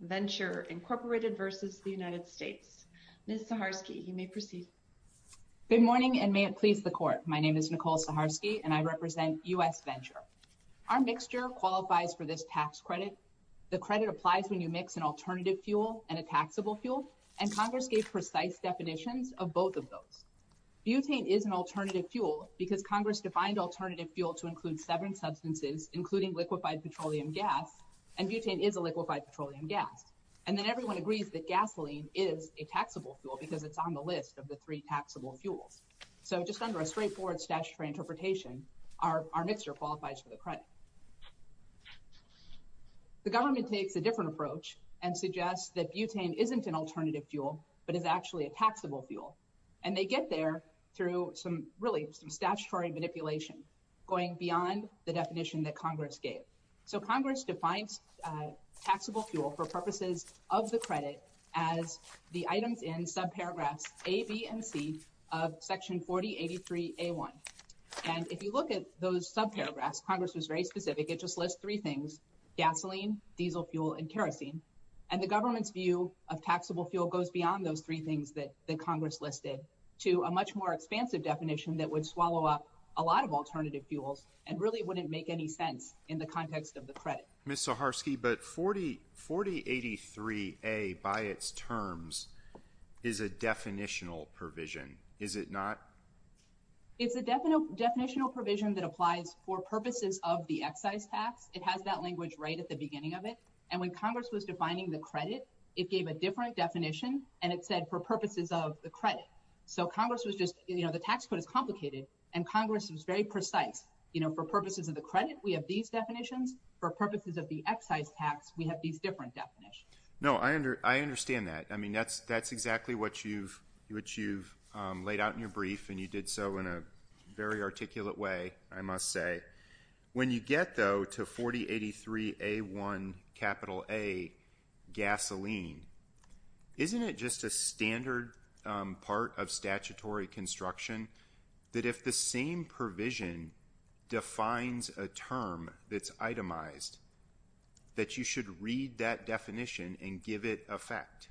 Ms. Saharsky, you may proceed. Good morning and may it please the Court. My name is Nicole Saharsky and I represent U.S. Venture. Our mixture qualifies for this tax credit. The credit applies when you mix an alternative fuel and a taxable fuel and Congress gave precise definitions of both of those. Butane is an alternative fuel because Congress defined alternative fuel to include seven And then everyone agrees that gasoline is a taxable fuel because it's on the list of the three taxable fuels. So just under a straightforward statutory interpretation, our mixture qualifies for the credit. The government takes a different approach and suggests that butane isn't an alternative fuel but is actually a taxable fuel. And they get there through some, really, some statutory manipulation going beyond the definition that Congress gave. So Congress defines taxable fuel for purposes of the credit as the items in subparagraphs A, B, and C of Section 4083A1. And if you look at those subparagraphs, Congress was very specific. It just lists three things, gasoline, diesel fuel, and kerosene. And the government's view of taxable fuel goes beyond those three things that Congress listed to a much more expansive definition that would swallow up a lot of alternative fuels and really wouldn't make any sense in the context of the credit. Ms. Saharsky, but 4083A by its terms is a definitional provision, is it not? It's a definitional provision that applies for purposes of the excise tax. It has that language right at the beginning of it. And when Congress was defining the credit, it gave a different definition and it said for purposes of the credit. So Congress was just, you know, the tax code is complicated and Congress was very precise. You know, for purposes of the credit, we have these definitions. For purposes of the excise tax, we have these different definitions. No, I understand that. I mean, that's exactly what you've laid out in your brief and you did so in a very articulate way, I must say. When you get, though, to 4083A1 capital A gasoline, isn't it just a standard part of statutory construction that if the same provision defines a term that's itemized, that you should read that definition and give it effect?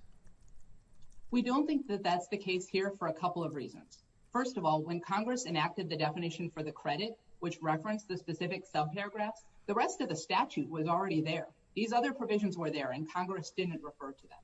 We don't think that that's the case here for a couple of reasons. First of all, when Congress enacted the definition for the credit, which referenced the specific subparagraphs, the rest of the statute was already there. These other provisions were there and Congress didn't refer to them.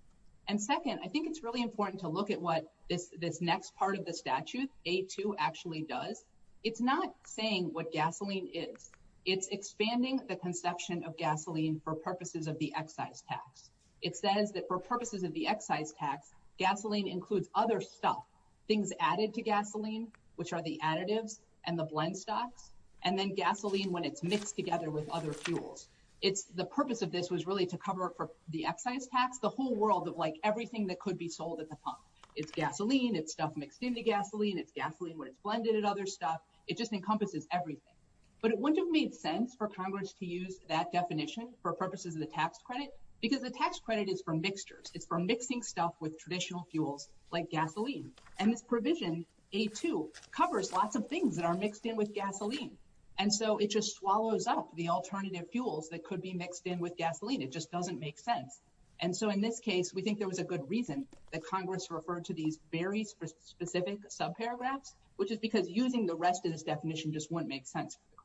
And second, I think it's really important to look at what this next part of the statute, A2, actually does. It's not saying what gasoline is. It's expanding the conception of gasoline for purposes of the excise tax. It says that for purposes of the excise tax, gasoline includes other stuff. Things added to gasoline, which are the additives and the blend stocks, and then gasoline when it's mixed together with other fuels. The purpose of this was really to cover for the excise tax, the whole world of everything that could be sold at the pump. It's gasoline, it's stuff mixed into gasoline, it's gasoline when it's blended with other stuff. It just encompasses everything. But it wouldn't have made sense for Congress to use that definition for purposes of the tax credit because the tax credit is for mixtures. It's for mixing stuff with traditional fuels like gasoline. And this provision, A2, covers lots of things that are mixed in with gasoline. And so it just swallows up the alternative fuels that could be mixed in with gasoline. It just doesn't make sense. And so in this case, we think there was a good reason that Congress referred to these very specific subparagraphs, which is because using the rest of this definition just wouldn't make sense for the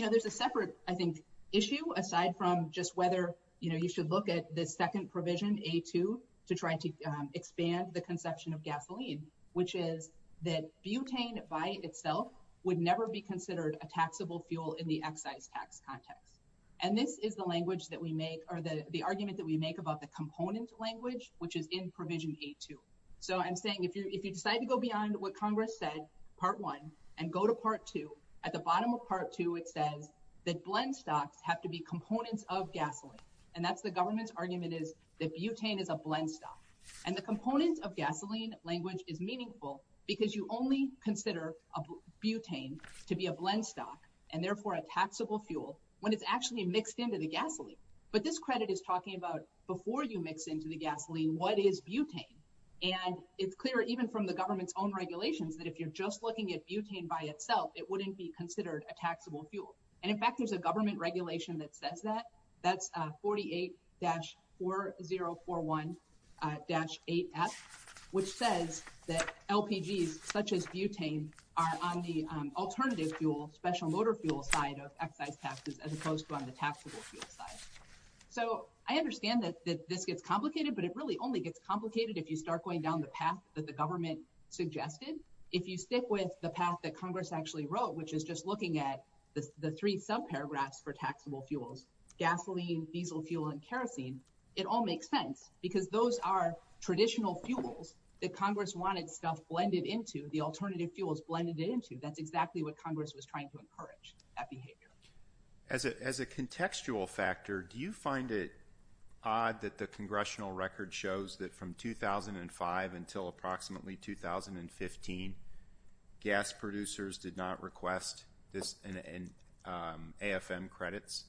credit. There's a separate, I think, issue aside from just whether you should look at the second provision, A2, to try to expand the conception of gasoline, which is that butane by itself would never be considered a taxable fuel in the excise tax context. And this is the argument that we make about the component language, which is in provision A2. So I'm saying if you decide to go beyond what Congress said, part one, and go to part two, at the bottom of part two, it says that blend stocks have to be components of gasoline. And that's the government's argument is that butane is a blend stock. And the components of gasoline language is meaningful because you only consider butane to be a blend stock and therefore a taxable fuel when it's actually mixed into the gasoline. But this credit is talking about before you mix into the gasoline, what is butane? And it's clear even from the government's own regulations that if you're just looking at butane by itself, it wouldn't be considered a taxable fuel. And in fact, there's a government regulation that says that. That's 48-4041-8F, which says that LPGs such as butane are on the alternative fuel, special on the taxable fuel side. So I understand that this gets complicated, but it really only gets complicated if you start going down the path that the government suggested. If you stick with the path that Congress actually wrote, which is just looking at the three subparagraphs for taxable fuels, gasoline, diesel fuel, and kerosene, it all makes sense because those are traditional fuels that Congress wanted stuff blended into, the alternative fuels blended into. That's exactly what Congress was trying to encourage, that behavior. As a contextual factor, do you find it odd that the congressional record shows that from 2005 until approximately 2015, gas producers did not request AFM credits?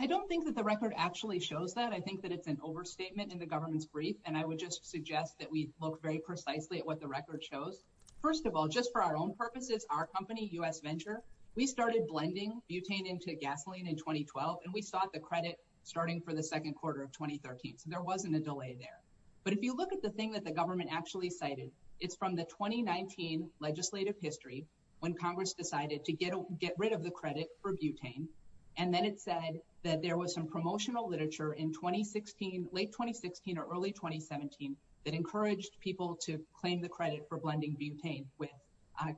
I don't think that the record actually shows that. I think that it's an overstatement in the government's brief. And I would just suggest that we look very precisely at what the record shows. First of all, just for our own purposes, our company, U.S. Venture, we started blending butane into gasoline in 2012, and we sought the credit starting for the second quarter of 2013. So there wasn't a delay there. But if you look at the thing that the government actually cited, it's from the 2019 legislative history when Congress decided to get rid of the credit for butane. And then it said that there was some promotional literature in 2016, late 2016 or early 2017 that encouraged people to claim the credit for blending butane with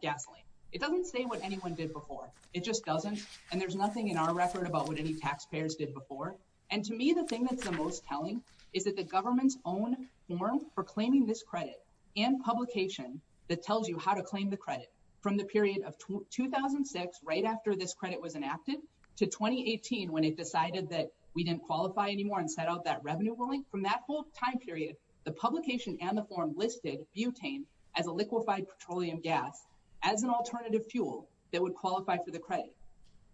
gasoline. It doesn't say what anyone did before. It just doesn't. And there's nothing in our record about what any taxpayers did before. And to me, the thing that's the most telling is that the government's own form for claiming this credit and publication that tells you how to claim the credit from the period of 2006, right after this credit was enacted, to 2018, when it decided that we didn't qualify anymore and set out that revenue ruling. From that whole time period, the publication and the form listed butane as a liquefied petroleum gas as an alternative fuel that would qualify for the credit.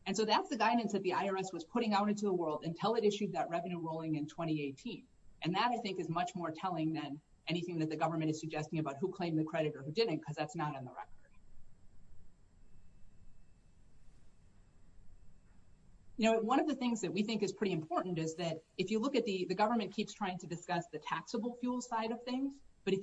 And so that's the guidance that the IRS was putting out into the world until it issued that revenue ruling in 2018. And that, I think, is much more telling than anything that the government is suggesting about who claimed the credit or who didn't, because that's not in the record. You know, one of the things that we think is pretty important is that if you look at the government keeps trying to discuss the taxable fuel side of things. But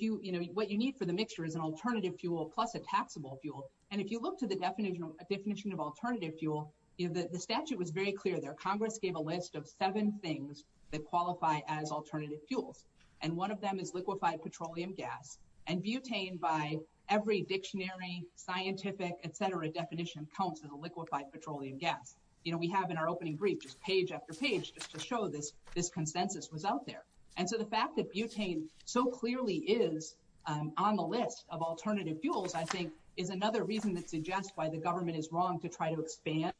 what you need for the mixture is an alternative fuel plus a taxable fuel. And if you look to the definition of alternative fuel, the statute was very clear there. Congress gave a list of seven things that qualify as alternative fuels, and one of them is liquefied petroleum gas. And butane, by every dictionary, scientific, et cetera, definition counts as a liquefied petroleum gas. You know, we have in our opening brief just page after page to show this this consensus was out there. And so the fact that butane so clearly is on the list of alternative fuels, I think, is another reason that suggests why the government is wrong to try to expand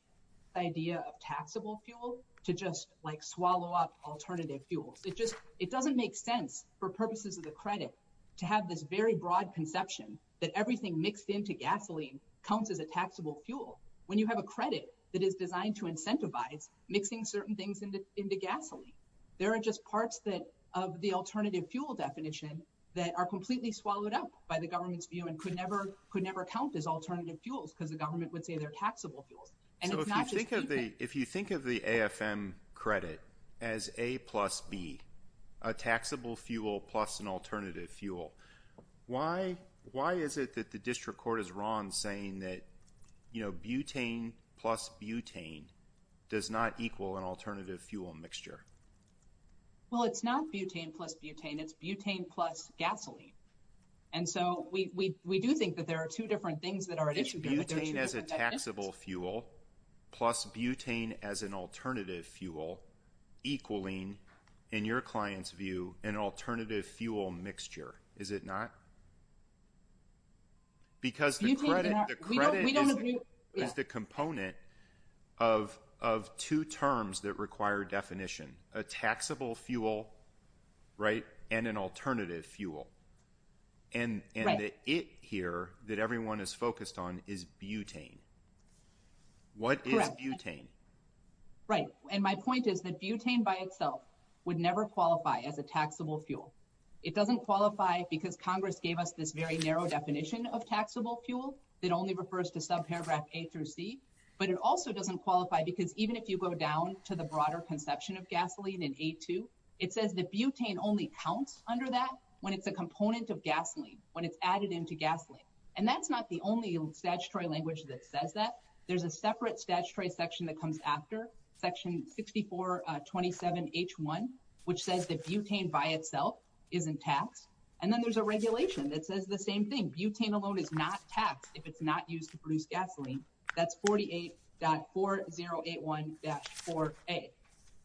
the idea of taxable fuel to just like swallow up alternative fuels. It just it doesn't make sense for purposes of the credit to have this very broad conception that everything mixed into gasoline counts as a taxable fuel when you have a credit that is designed to incentivize mixing certain things into into gasoline. There are just parts that of the alternative fuel definition that are completely swallowed up by the government's view and could never could never count as alternative fuels because the government would say they're taxable fuels. And if you think of the if you think of the AFM credit as A plus B, a taxable fuel plus an alternative fuel. Why why is it that the district court is wrong, saying that, you know, butane plus butane does not equal an alternative fuel mixture? Well, it's not butane plus butane. It's butane plus gasoline. And so we do think that there are two different things that are at issue. Butane as a taxable fuel plus butane as an alternative fuel equaling in your client's view, an alternative fuel mixture, is it not? Because the credit is the component of of two terms that require definition, a taxable fuel, right, and an alternative fuel. And it here that everyone is focused on is butane. What is butane? Right. And my point is that butane by itself would never qualify as a taxable fuel. It doesn't qualify because Congress gave us this very narrow definition of taxable fuel that only refers to subparagraph A through C. But it also doesn't qualify because even if you go down to the broader conception of gasoline in A2, it says that butane only counts under that when it's a component of gasoline, when it's added into gasoline. And that's not the only statutory language that says that there's a separate statutory section that comes after section 6427H1, which says that butane by itself isn't taxed. And then there's a regulation that says the same thing. Butane alone is not taxed if it's not used to produce gasoline. That's 48.4081-4A.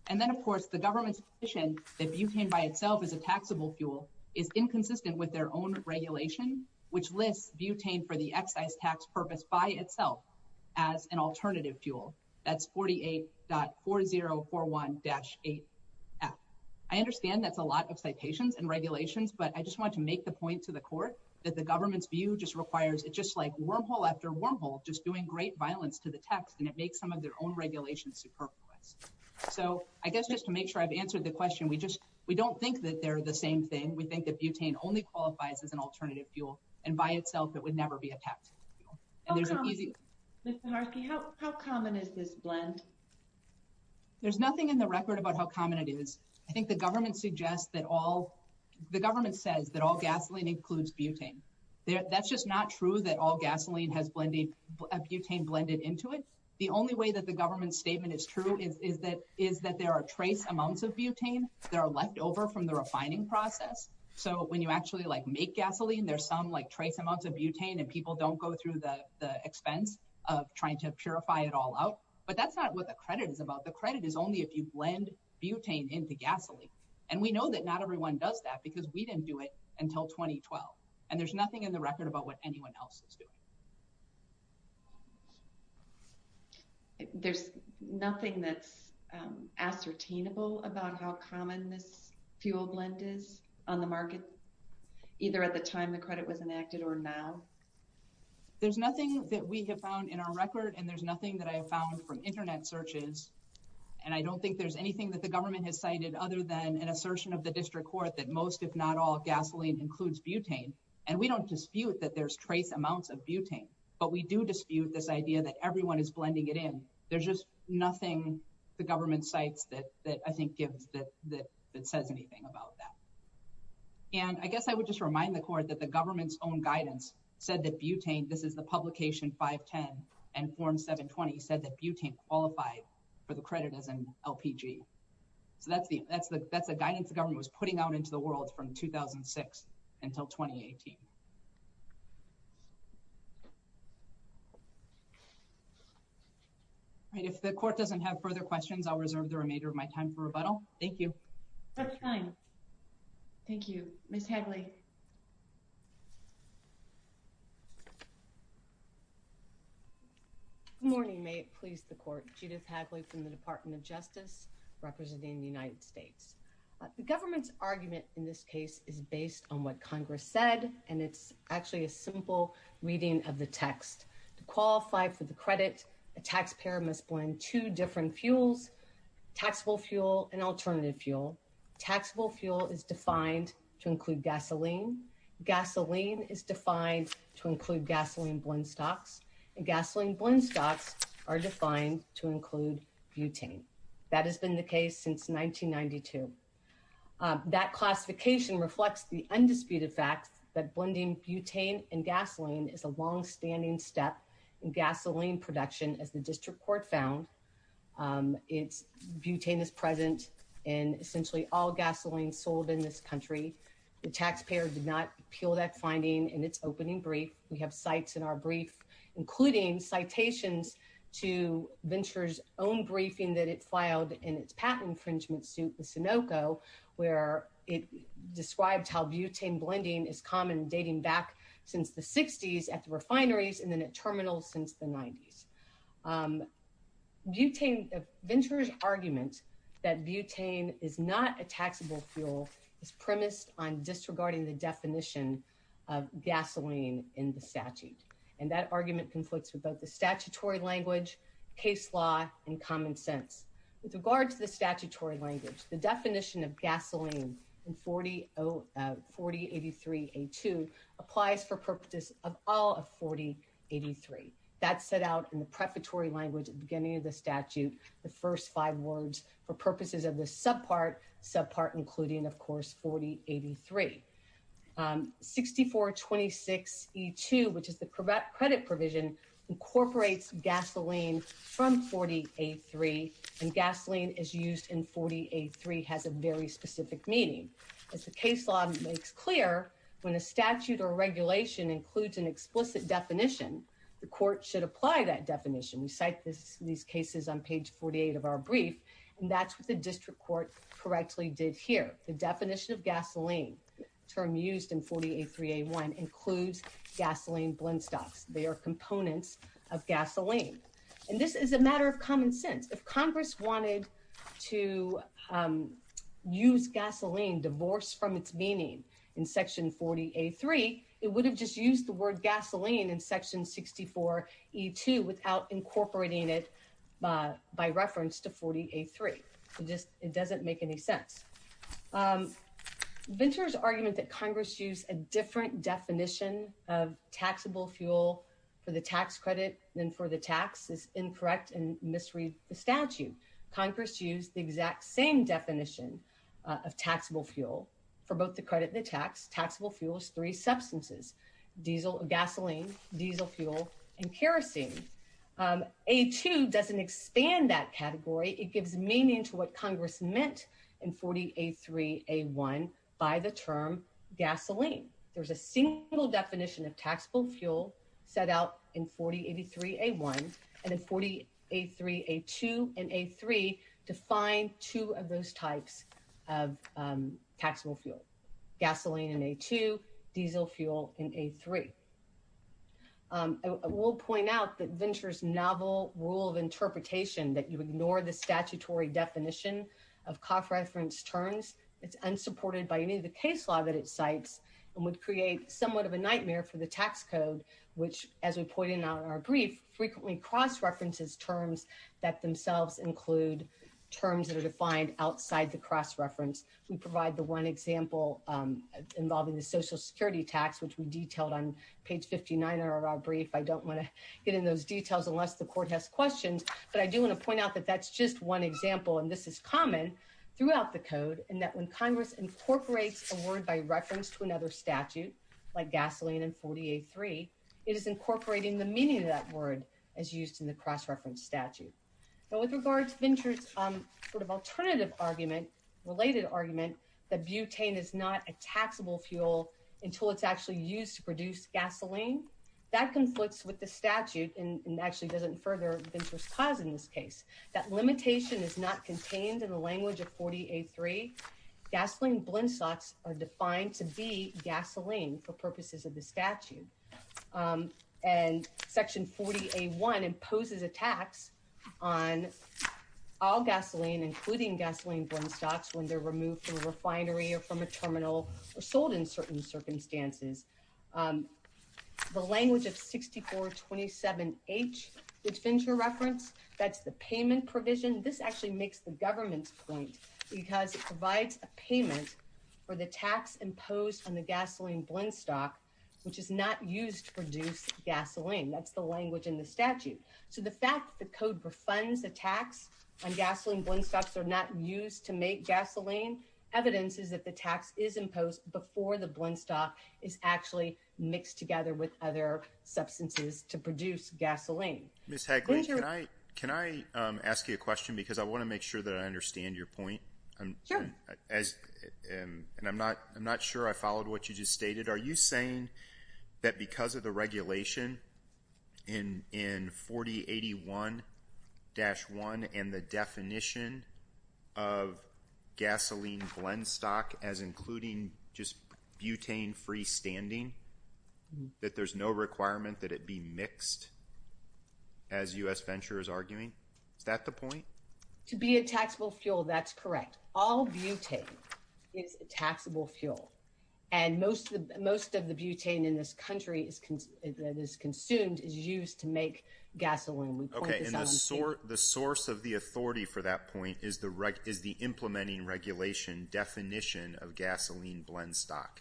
And then, of course, the government's position that butane by itself is a taxable fuel is inconsistent with their own regulation, which lists butane for the excise purpose by itself as an alternative fuel. That's 48.4041-8F. I understand that's a lot of citations and regulations, but I just want to make the point to the court that the government's view just requires it just like wormhole after wormhole, just doing great violence to the tax. And it makes some of their own regulations superfluous. So I guess just to make sure I've answered the question, we just we don't think that they're the same thing. We think that butane only qualifies as an alternative fuel. And by itself, it would never be a tax. And there's an easy. How common is this blend? There's nothing in the record about how common it is. I think the government suggests that all the government says that all gasoline includes butane. That's just not true that all gasoline has butane blended into it. The only way that the government statement is true is that is that there are trace amounts of butane that are left over from the refining process. So when you actually like make gasoline, there's some like trace amounts of butane and people don't go through the expense of trying to purify it all out. But that's not what the credit is about. The credit is only if you blend butane into gasoline. And we know that not everyone does that because we didn't do it until 2012. And there's nothing in the record about what anyone else is doing. There's nothing that's ascertainable about how common this fuel blend is on the market, either at the time the credit was enacted or now. There's nothing that we have found in our record, and there's nothing that I have found from Internet searches, and I don't think there's anything that the government has cited other than an assertion of the district court that most, if not all, gasoline includes butane. And we don't dispute that there's trace amounts of butane. But we do dispute this idea that everyone is blending it in. There's just nothing the government cites that I think gives that that says anything about that. And I guess I would just remind the court that the government's own guidance said that butane, this is the publication 510 and form 720, said that butane qualified for the credit as an LPG. So that's the that's the that's the guidance the government was putting out into the world from 2006 until 2018. If the court doesn't have further questions, I'll reserve the remainder of my time for rebuttal. Thank you. That's fine. Thank you, Ms. Good morning. May it please the court. Judith Hadley from the Department of Justice representing the United States. The government's argument in this case is based on what Congress said, and it's actually a simple reading of the text. To qualify for the credit, a taxpayer must blend two different fuels, taxable fuel and alternative fuel. Taxable fuel is defined to include gasoline. Gasoline is defined to include gasoline blend stocks and gasoline blend stocks are defined to include butane. That has been the case since 1992. That classification reflects the undisputed fact that blending butane and gasoline is a longstanding step in gasoline production. As the district court found its butane is present in essentially all gasoline sold in this country. The taxpayer did not appeal that finding in its opening brief. We have sites in our brief, including citations to Venture's own briefing that it filed in its patent infringement suit, the Sunoco, where it described how butane blending is common, dating back since the 60s at the refineries and then at terminals since the 90s. Butane, Venture's argument that butane is not a taxable fuel is premised on disregarding the definition of gasoline in the statute, and that argument conflicts with both the statutory language, case law and common sense with regard to the statutory language. The definition of gasoline in 40, 40, 83, a two applies for purpose of all of 40, 83. That's set out in the prefatory language at the beginning of the statute, the first five words for purposes of the subpart, subpart, including, of course, 40, 83, 64, 26, E2, which is the credit provision, incorporates gasoline from 40, 83, and gasoline is used in 40, 83 has a very specific meaning. As the case law makes clear, when a statute or regulation includes an explicit definition, the court should apply that definition. We cite this in these cases on page 48 of our brief, and that's what the district court correctly did here. The definition of gasoline term used in 40, 83, a one includes gasoline blend stocks. They are components of gasoline, and this is a matter of common sense. If Congress wanted to use gasoline divorce from its meaning in Section 40, a three, it would have used gasoline in Section 64, E2, without incorporating it by reference to 40, 83. It doesn't make any sense. Venter's argument that Congress used a different definition of taxable fuel for the tax credit than for the tax is incorrect and misread the statute. Congress used the exact same definition of taxable fuel for both the credit and the tax. Taxable fuel is three substances, diesel, gasoline, diesel fuel, and kerosene. A2 doesn't expand that category. It gives meaning to what Congress meant in 40, a three, a one by the term gasoline. There's a single definition of taxable fuel set out in 40, 83, a one and in 40, a three, a two, and a three define two of those types of taxable fuel, gasoline in a two, diesel fuel in a three. We'll point out that Venter's novel rule of interpretation that you ignore the statutory definition of cost reference terms. It's unsupported by any of the case law that it cites and would create somewhat of a nightmare for the tax code, which, as we pointed out in our brief, frequently cross references terms that themselves include terms that are defined outside the cross reference. We provide the one example involving the social security tax, which we detailed on page 59 of our brief. I don't want to get in those details unless the court has questions, but I do want to point out that that's just one example. And this is common throughout the code and that when Congress incorporates a word by reference to another statute like gasoline and 40, a three, it is incorporating the meaning of that word as used in the cross reference statute. Now, with regards to Venter's sort of alternative argument, related argument that butane is not a taxable fuel until it's actually used to produce gasoline, that conflicts with the statute and actually doesn't further Venter's cause in this case. That limitation is not contained in the language of 40, a three. Gasoline blend stocks are defined to be gasoline for purposes of the statute. And Section 40, a one imposes a tax on all gasoline, including gasoline blend stocks when they're removed from a refinery or from a terminal or sold in certain circumstances. The language of 6427H, which Fincher referenced, that's the payment provision. This actually makes the government's point because it provides a payment for the tax imposed on the gasoline blend stock, which is not used to produce gasoline. That's the language in the statute. So the fact that the code refunds the tax on gasoline blend stocks are not used to make gasoline. Evidence is that the tax is imposed before the blend stock is actually mixed together with other substances to produce gasoline. Ms. Hagley, can I ask you a question? Because I want to make sure that I understand your point. Sure. And I'm not sure I followed what you just stated. Are you saying that because of the regulation in 4081-1 and the definition of gasoline blend stock as including just butane free standing, that there's no requirement that it be mixed, as U.S. Fincher is arguing? Is that the point? To be a taxable fuel, that's correct. All butane is a taxable fuel, and most of the butane in this country that is consumed is used to make gasoline. We point this out in the statute. Okay, and the source of the authority for that point is the implementing regulation definition of gasoline blend stock.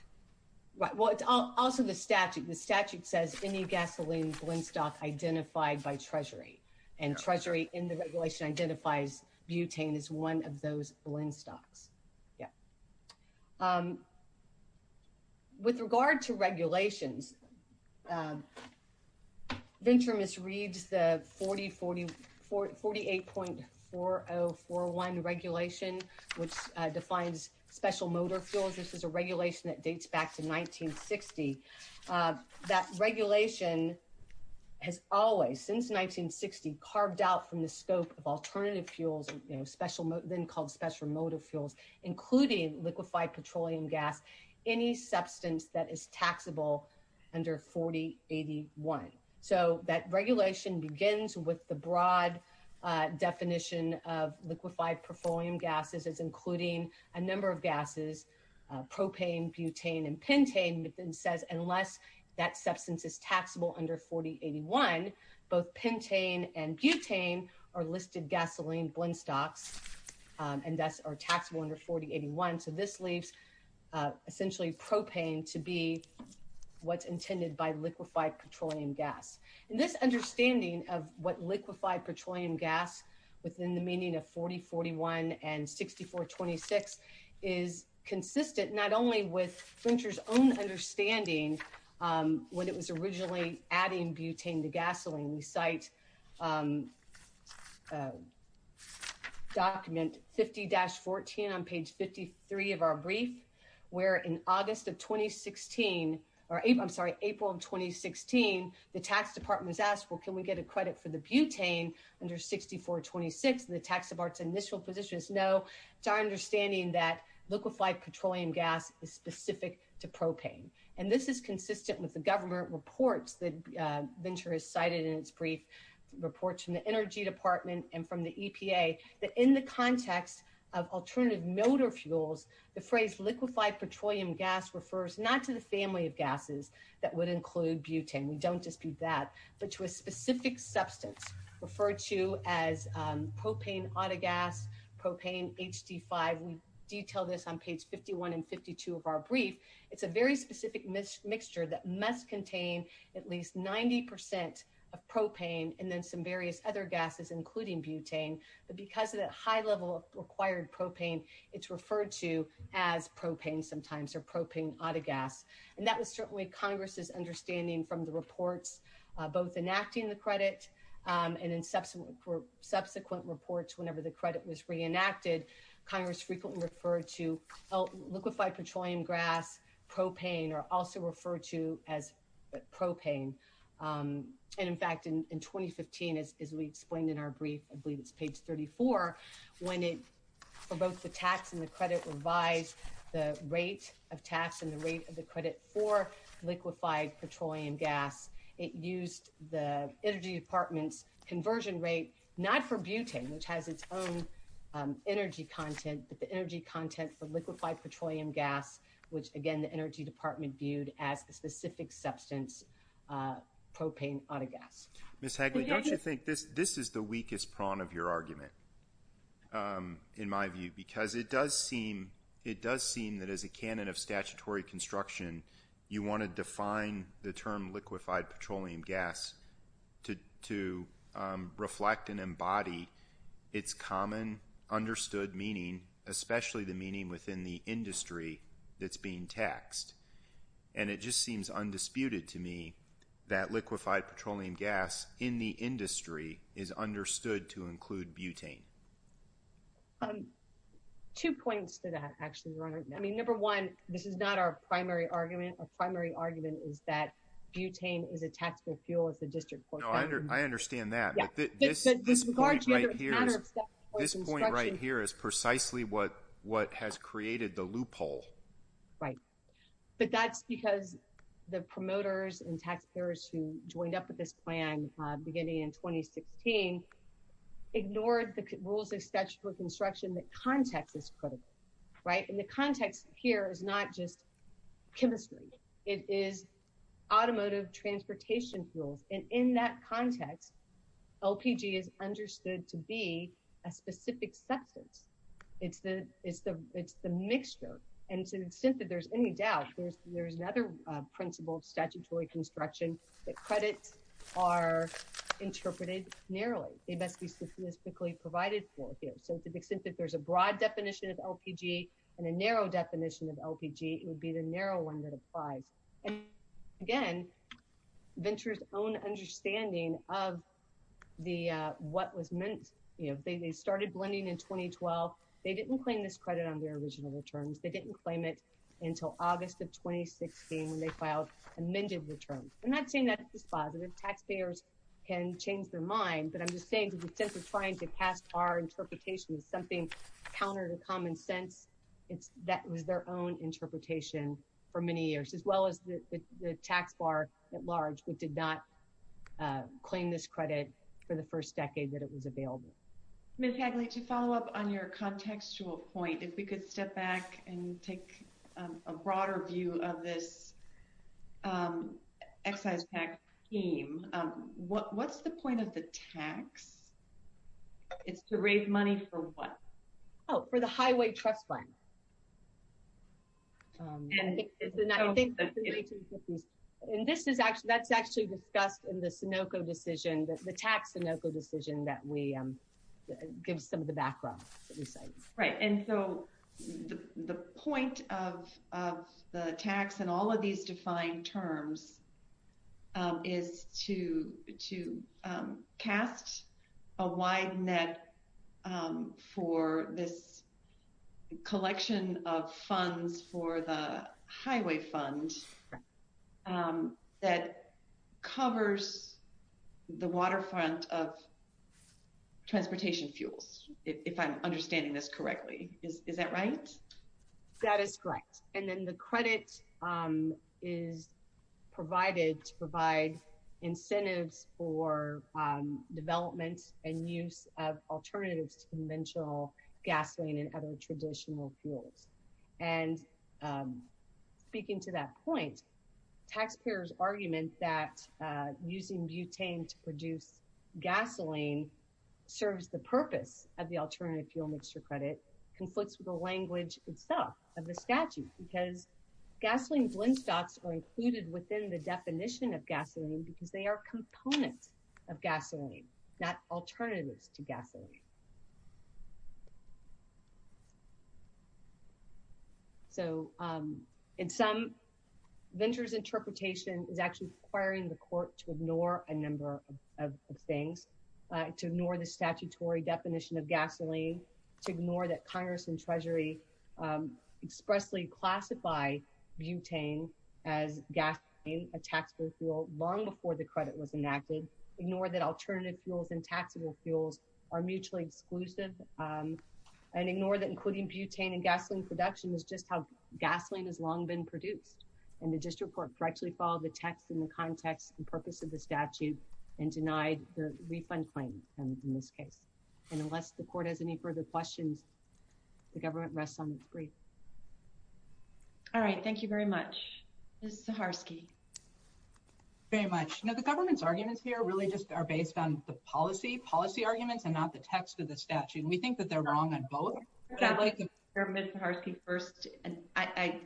Right. Well, it's also the statute. The statute says any gasoline blend stock identified by Treasury, and Treasury in the U.S. qualifies butane as one of those blend stocks. Yeah. With regard to regulations, Ventra misreads the 48.4041 regulation, which defines special motor fuels. This is a regulation that dates back to 1960. That regulation has always, since 1960, carved out from the scope of alternative fuels, then called special motor fuels, including liquefied petroleum gas, any substance that is taxable under 4081. So that regulation begins with the broad definition of liquefied petroleum gases as including a number of gases, propane, butane, and pentane, and then says unless that substance is taxable under 4081, both pentane and butane are listed gasoline blend stocks and thus are taxable under 4081. So this leaves essentially propane to be what's intended by liquefied petroleum gas. This understanding of what liquefied petroleum gas within the meaning of 4041 and 6426 is consistent not only with Ventra's own understanding when it was originally adding butane to gasoline. We cite document 50-14 on page 53 of our brief, where in August of 2016, or I'm sorry, April of 2016, the tax department was asked, well, can we get a credit for the butane under 6426? And the tax department's initial position is no. It's our understanding that liquefied petroleum gas is specific to propane. And this is consistent with the government reports that Ventra has cited in its brief reports from the Energy Department and from the EPA that in the context of alternative motor fuels, the butane, we don't dispute that, but to a specific substance referred to as propane autogas, propane HD5. We detail this on page 51 and 52 of our brief. It's a very specific mixture that must contain at least 90 percent of propane and then some various other gases, including butane. But because of that high level of required propane, it's referred to as propane sometimes or propane autogas. And that was certainly Congress's understanding from the reports, both enacting the credit and in subsequent subsequent reports. Whenever the credit was reenacted, Congress frequently referred to liquefied petroleum gas, propane are also referred to as propane. And in fact, in 2015, as we explained in our brief, I believe it's page 34 when it for both the tax and the rate of the credit for liquefied petroleum gas. It used the Energy Department's conversion rate, not for butane, which has its own energy content, but the energy content for liquefied petroleum gas, which, again, the Energy Department viewed as a specific substance, propane autogas. Ms. Hagley, don't you think this this is the weakest prong of your argument, in my view, because it does seem it does seem that as a canon of statutory construction, you want to define the term liquefied petroleum gas to to reflect and embody its common understood meaning, especially the meaning within the industry that's being taxed. And it just seems undisputed to me that liquefied petroleum gas in the industry is understood to include butane. Two points to that, actually, right now, I mean, number one, this is not our primary argument. Our primary argument is that butane is a taxable fuel. It's a district court. I understand that. Yeah, this this part right here, this point right here is precisely what what has created the loophole. Right. But that's because the promoters and taxpayers who joined up with this plan beginning in 2016 ignored the rules of statutory construction. The context is critical, right? And the context here is not just chemistry. It is automotive transportation fuels. And in that context, LPG is understood to be a specific substance. It's the it's the it's the mixture. And to the extent that there's any doubt there's there's another principle of statutory construction, the credits are interpreted narrowly. They must be statistically provided for. So to the extent that there's a broad definition of LPG and a narrow definition of LPG, it would be the narrow one that applies. And again, Venture's own understanding of the what was meant, you know, they started blending in 2012. They didn't claim this credit on their original returns. They didn't claim it until August of 2016 when they filed amended returns. I'm not saying that's just positive. Taxpayers can change their mind, but I'm just saying to the extent of trying to cast our interpretation of something counter to common sense, it's that was their own interpretation for many years, as well as the tax bar at large. We did not claim this credit for the first decade that it was available. Ms. Hagley, to follow up on your contextual point, if we could step back and take a broader view of this excise tax scheme, what what's the point of the tax? It's to raise money for what? Oh, for the highway trust fund. And I think that's actually discussed in the Sunoco decision, the tax Sunoco decision that we give some of the background. Right. And so the point of the tax and all of these defined terms is to to cast a wide net for this collection of funds for the highway fund that covers the waterfront of transportation fuels, if I'm understanding this correctly. Is that right? That is correct. And then the credit is provided to provide incentives for development and use of alternatives to conventional gasoline and other traditional fuels. And speaking to that point, taxpayers argument that using butane to produce gasoline serves the purpose of the alternative fuel mixture credit conflicts with the language itself of the statute, because gasoline blend stocks are included within the definition of gasoline because they are components of gasoline, not alternatives to gasoline. So in some ventures, interpretation is actually requiring the court to ignore a number of things, to ignore the statutory definition of gasoline, to ignore that Congress and Treasury expressly classify butane as gasoline, a taxable fuel long before the credit was enacted, ignore that alternative fuels and taxable fuels are mutually exclusive and ignore that including butane and gasoline production is just how gasoline has long been produced. And the district court directly followed the text and the context and purpose of the statute and denied the refund claim in this case. And unless the court has any further questions, the government rests on its grief. All right, thank you very much, Ms. Zaharsky. Very much. Now, the government's arguments here really just are based on the policy policy arguments and not the text of the statute. And we think that they're wrong on both. I'd like to start with Ms. Zaharsky first, and I,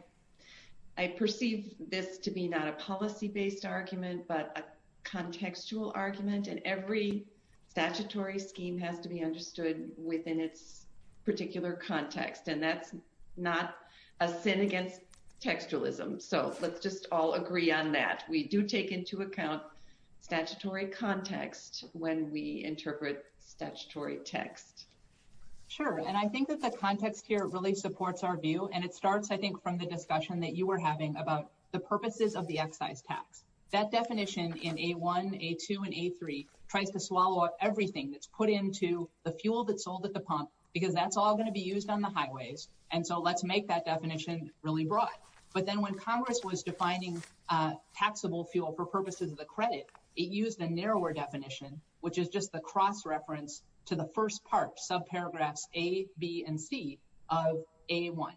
I perceive this to be not a policy based argument, but a contextual argument. And every statutory scheme has to be understood within its particular context. And that's not a sin against textualism. So let's just all agree on that. We do take into account statutory context when we interpret statutory text. Sure. And I think that the context here really supports our view. And it starts, I think, from the discussion that you were having about the purposes of the excise tax. That definition in A1, A2 and A3 tries to swallow up everything that's put into the fuel that's sold at the pump because that's all going to be used on the highways. And so let's make that definition really broad. But then when Congress was defining taxable fuel for purposes of the credit, it used a cross-reference to the first part, subparagraphs A, B and C of A1.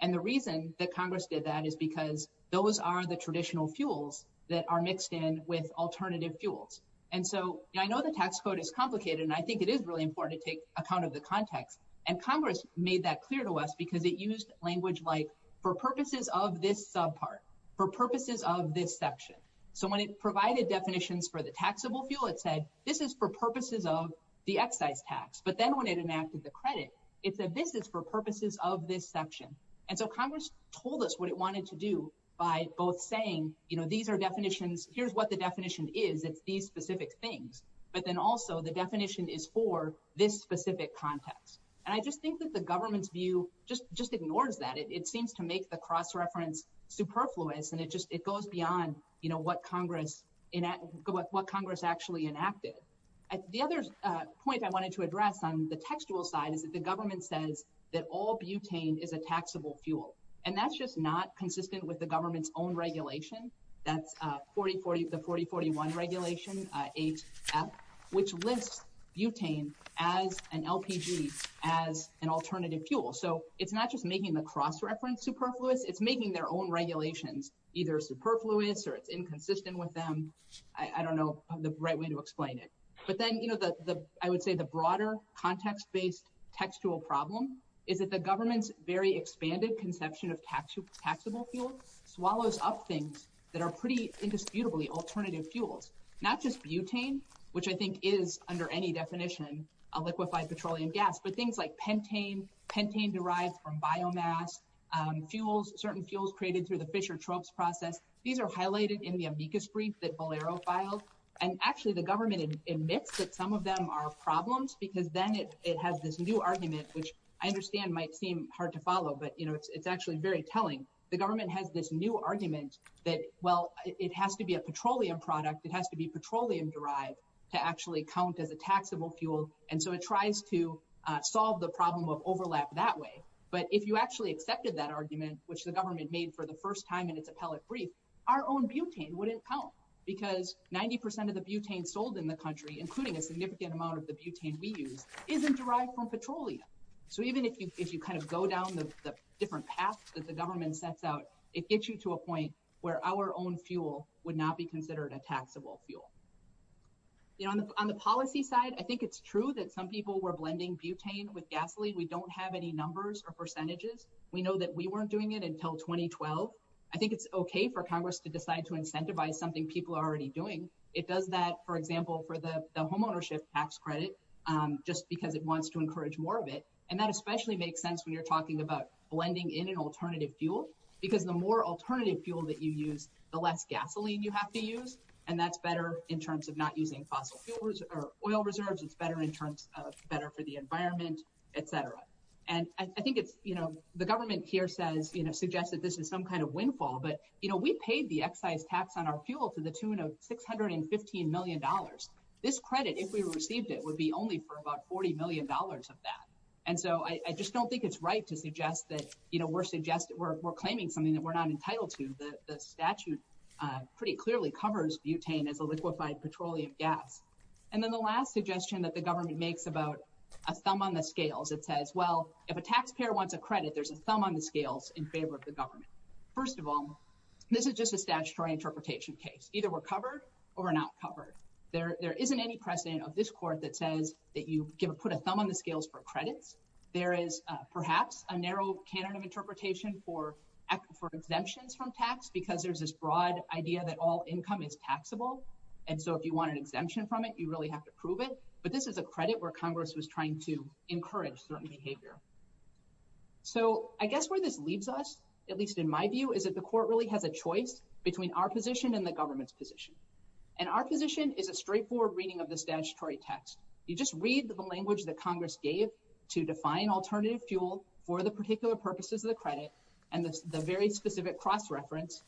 And the reason that Congress did that is because those are the traditional fuels that are mixed in with alternative fuels. And so I know the tax code is complicated, and I think it is really important to take account of the context. And Congress made that clear to us because it used language like for purposes of this subpart, for purposes of this section. So when it provided definitions for the taxable fuel, it said this is for purposes of the excise tax. But then when it enacted the credit, it said this is for purposes of this section. And so Congress told us what it wanted to do by both saying, you know, these are definitions. Here's what the definition is. It's these specific things. But then also the definition is for this specific context. And I just think that the government's view just ignores that. It seems to make the cross-reference superfluous. And it just it goes beyond, you know, what Congress in what Congress actually enacted. The other point I wanted to address on the textual side is that the government says that all butane is a taxable fuel. And that's just not consistent with the government's own regulation. That's 40-40, the 40-41 regulation, HF, which lists butane as an LPG, as an alternative fuel. So it's not just making the cross-reference superfluous, it's making their own regulations either superfluous or it's inconsistent with them. I don't know the right way to explain it. But then, you know, I would say the broader context based textual problem is that the government's very expanded conception of taxable fuel swallows up things that are pretty indisputably alternative fuels, not just butane, which I think is under any definition a butane derived from biomass, fuels, certain fuels created through the Fischer-Tropsch process. These are highlighted in the amicus brief that Bolero filed. And actually, the government admits that some of them are problems because then it has this new argument, which I understand might seem hard to follow, but it's actually very telling. The government has this new argument that, well, it has to be a petroleum product. It has to be petroleum derived to actually count as a taxable fuel. And so it tries to solve the problem of overlap that way. But if you actually accepted that argument, which the government made for the first time in its appellate brief, our own butane wouldn't count because 90 percent of the butane sold in the country, including a significant amount of the butane we use, isn't derived from petroleum. So even if you kind of go down the different paths that the government sets out, it gets you to a point where our own fuel would not be considered a taxable fuel. On the policy side, I think it's true that some people were blending butane with gasoline. We don't have any numbers or percentages. We know that we weren't doing it until 2012. I think it's OK for Congress to decide to incentivize something people are already doing. It does that, for example, for the homeownership tax credit just because it wants to encourage more of it. And that especially makes sense when you're talking about blending in an alternative fuel, because the more alternative fuel that you use, the less gasoline you have to use. And that's better in terms of not using fossil fuels or oil reserves. It's better in terms of better for the environment, et cetera. And I think it's, you know, the government here says, you know, suggests that this is some kind of windfall. But, you know, we paid the excise tax on our fuel to the tune of six hundred and fifteen million dollars. This credit, if we received it, would be only for about forty million dollars of that. And so I just don't think it's right to suggest that, you know, we're claiming something that we're not entitled to. The statute pretty clearly covers butane as a liquefied petroleum gas. And then the last suggestion that the government makes about a thumb on the scales, it says, well, if a taxpayer wants a credit, there's a thumb on the scales in favor of the government. First of all, this is just a statutory interpretation case. Either we're covered or we're not covered. There isn't any precedent of this court that says that you can put a thumb on the scales for credits. There is perhaps a narrow canon of interpretation for exemptions from tax because there's this broad idea that all income is taxable. And so if you want an exemption from it, you really have to prove it. But this is a credit where Congress was trying to encourage certain behavior. So I guess where this leaves us, at least in my view, is that the court really has a choice between our position and the government's position. And our position is a straightforward reading of the statutory text. You just read the language that Congress gave to define alternative fuel for the very specific cross-reference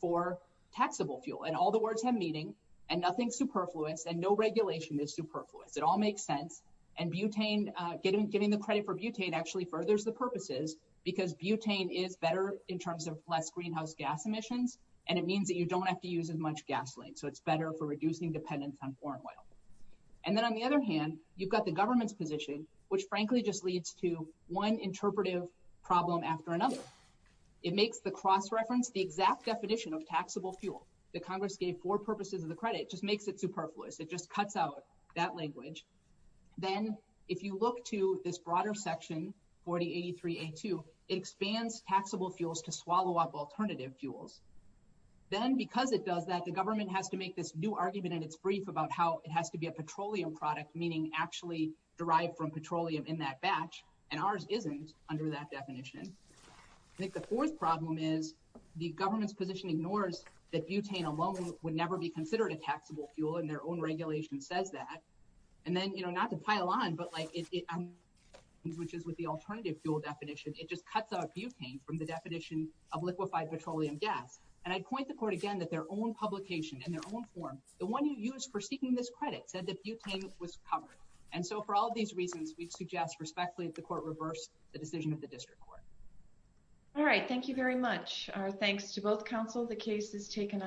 for taxable fuel. And all the words have meaning and nothing superfluous and no regulation is superfluous. It all makes sense. And butane, giving the credit for butane, actually furthers the purposes because butane is better in terms of less greenhouse gas emissions. And it means that you don't have to use as much gasoline. So it's better for reducing dependence on foreign oil. And then on the other hand, you've got the government's position, which frankly just leads to one interpretive problem after another. It makes the cross-reference the exact definition of taxable fuel that Congress gave for purposes of the credit just makes it superfluous. It just cuts out that language. Then if you look to this broader section, 4083A2, it expands taxable fuels to swallow up alternative fuels. Then because it does that, the government has to make this new argument in its brief about how it has to be a petroleum product, meaning actually derived from petroleum in that batch. And ours isn't under that definition. I think the fourth problem is the government's position ignores that butane alone would never be considered a taxable fuel. And their own regulation says that. And then, you know, not to pile on, but like it, which is with the alternative fuel definition, it just cuts out butane from the definition of liquefied petroleum gas. And I'd point the court again that their own publication and their own form, the one you use for seeking this credit said that butane was covered. And so for all of these reasons, we'd suggest respectfully that the court reverse the district court. All right. Thank you very much. Our thanks to both counsel. The case is taken on.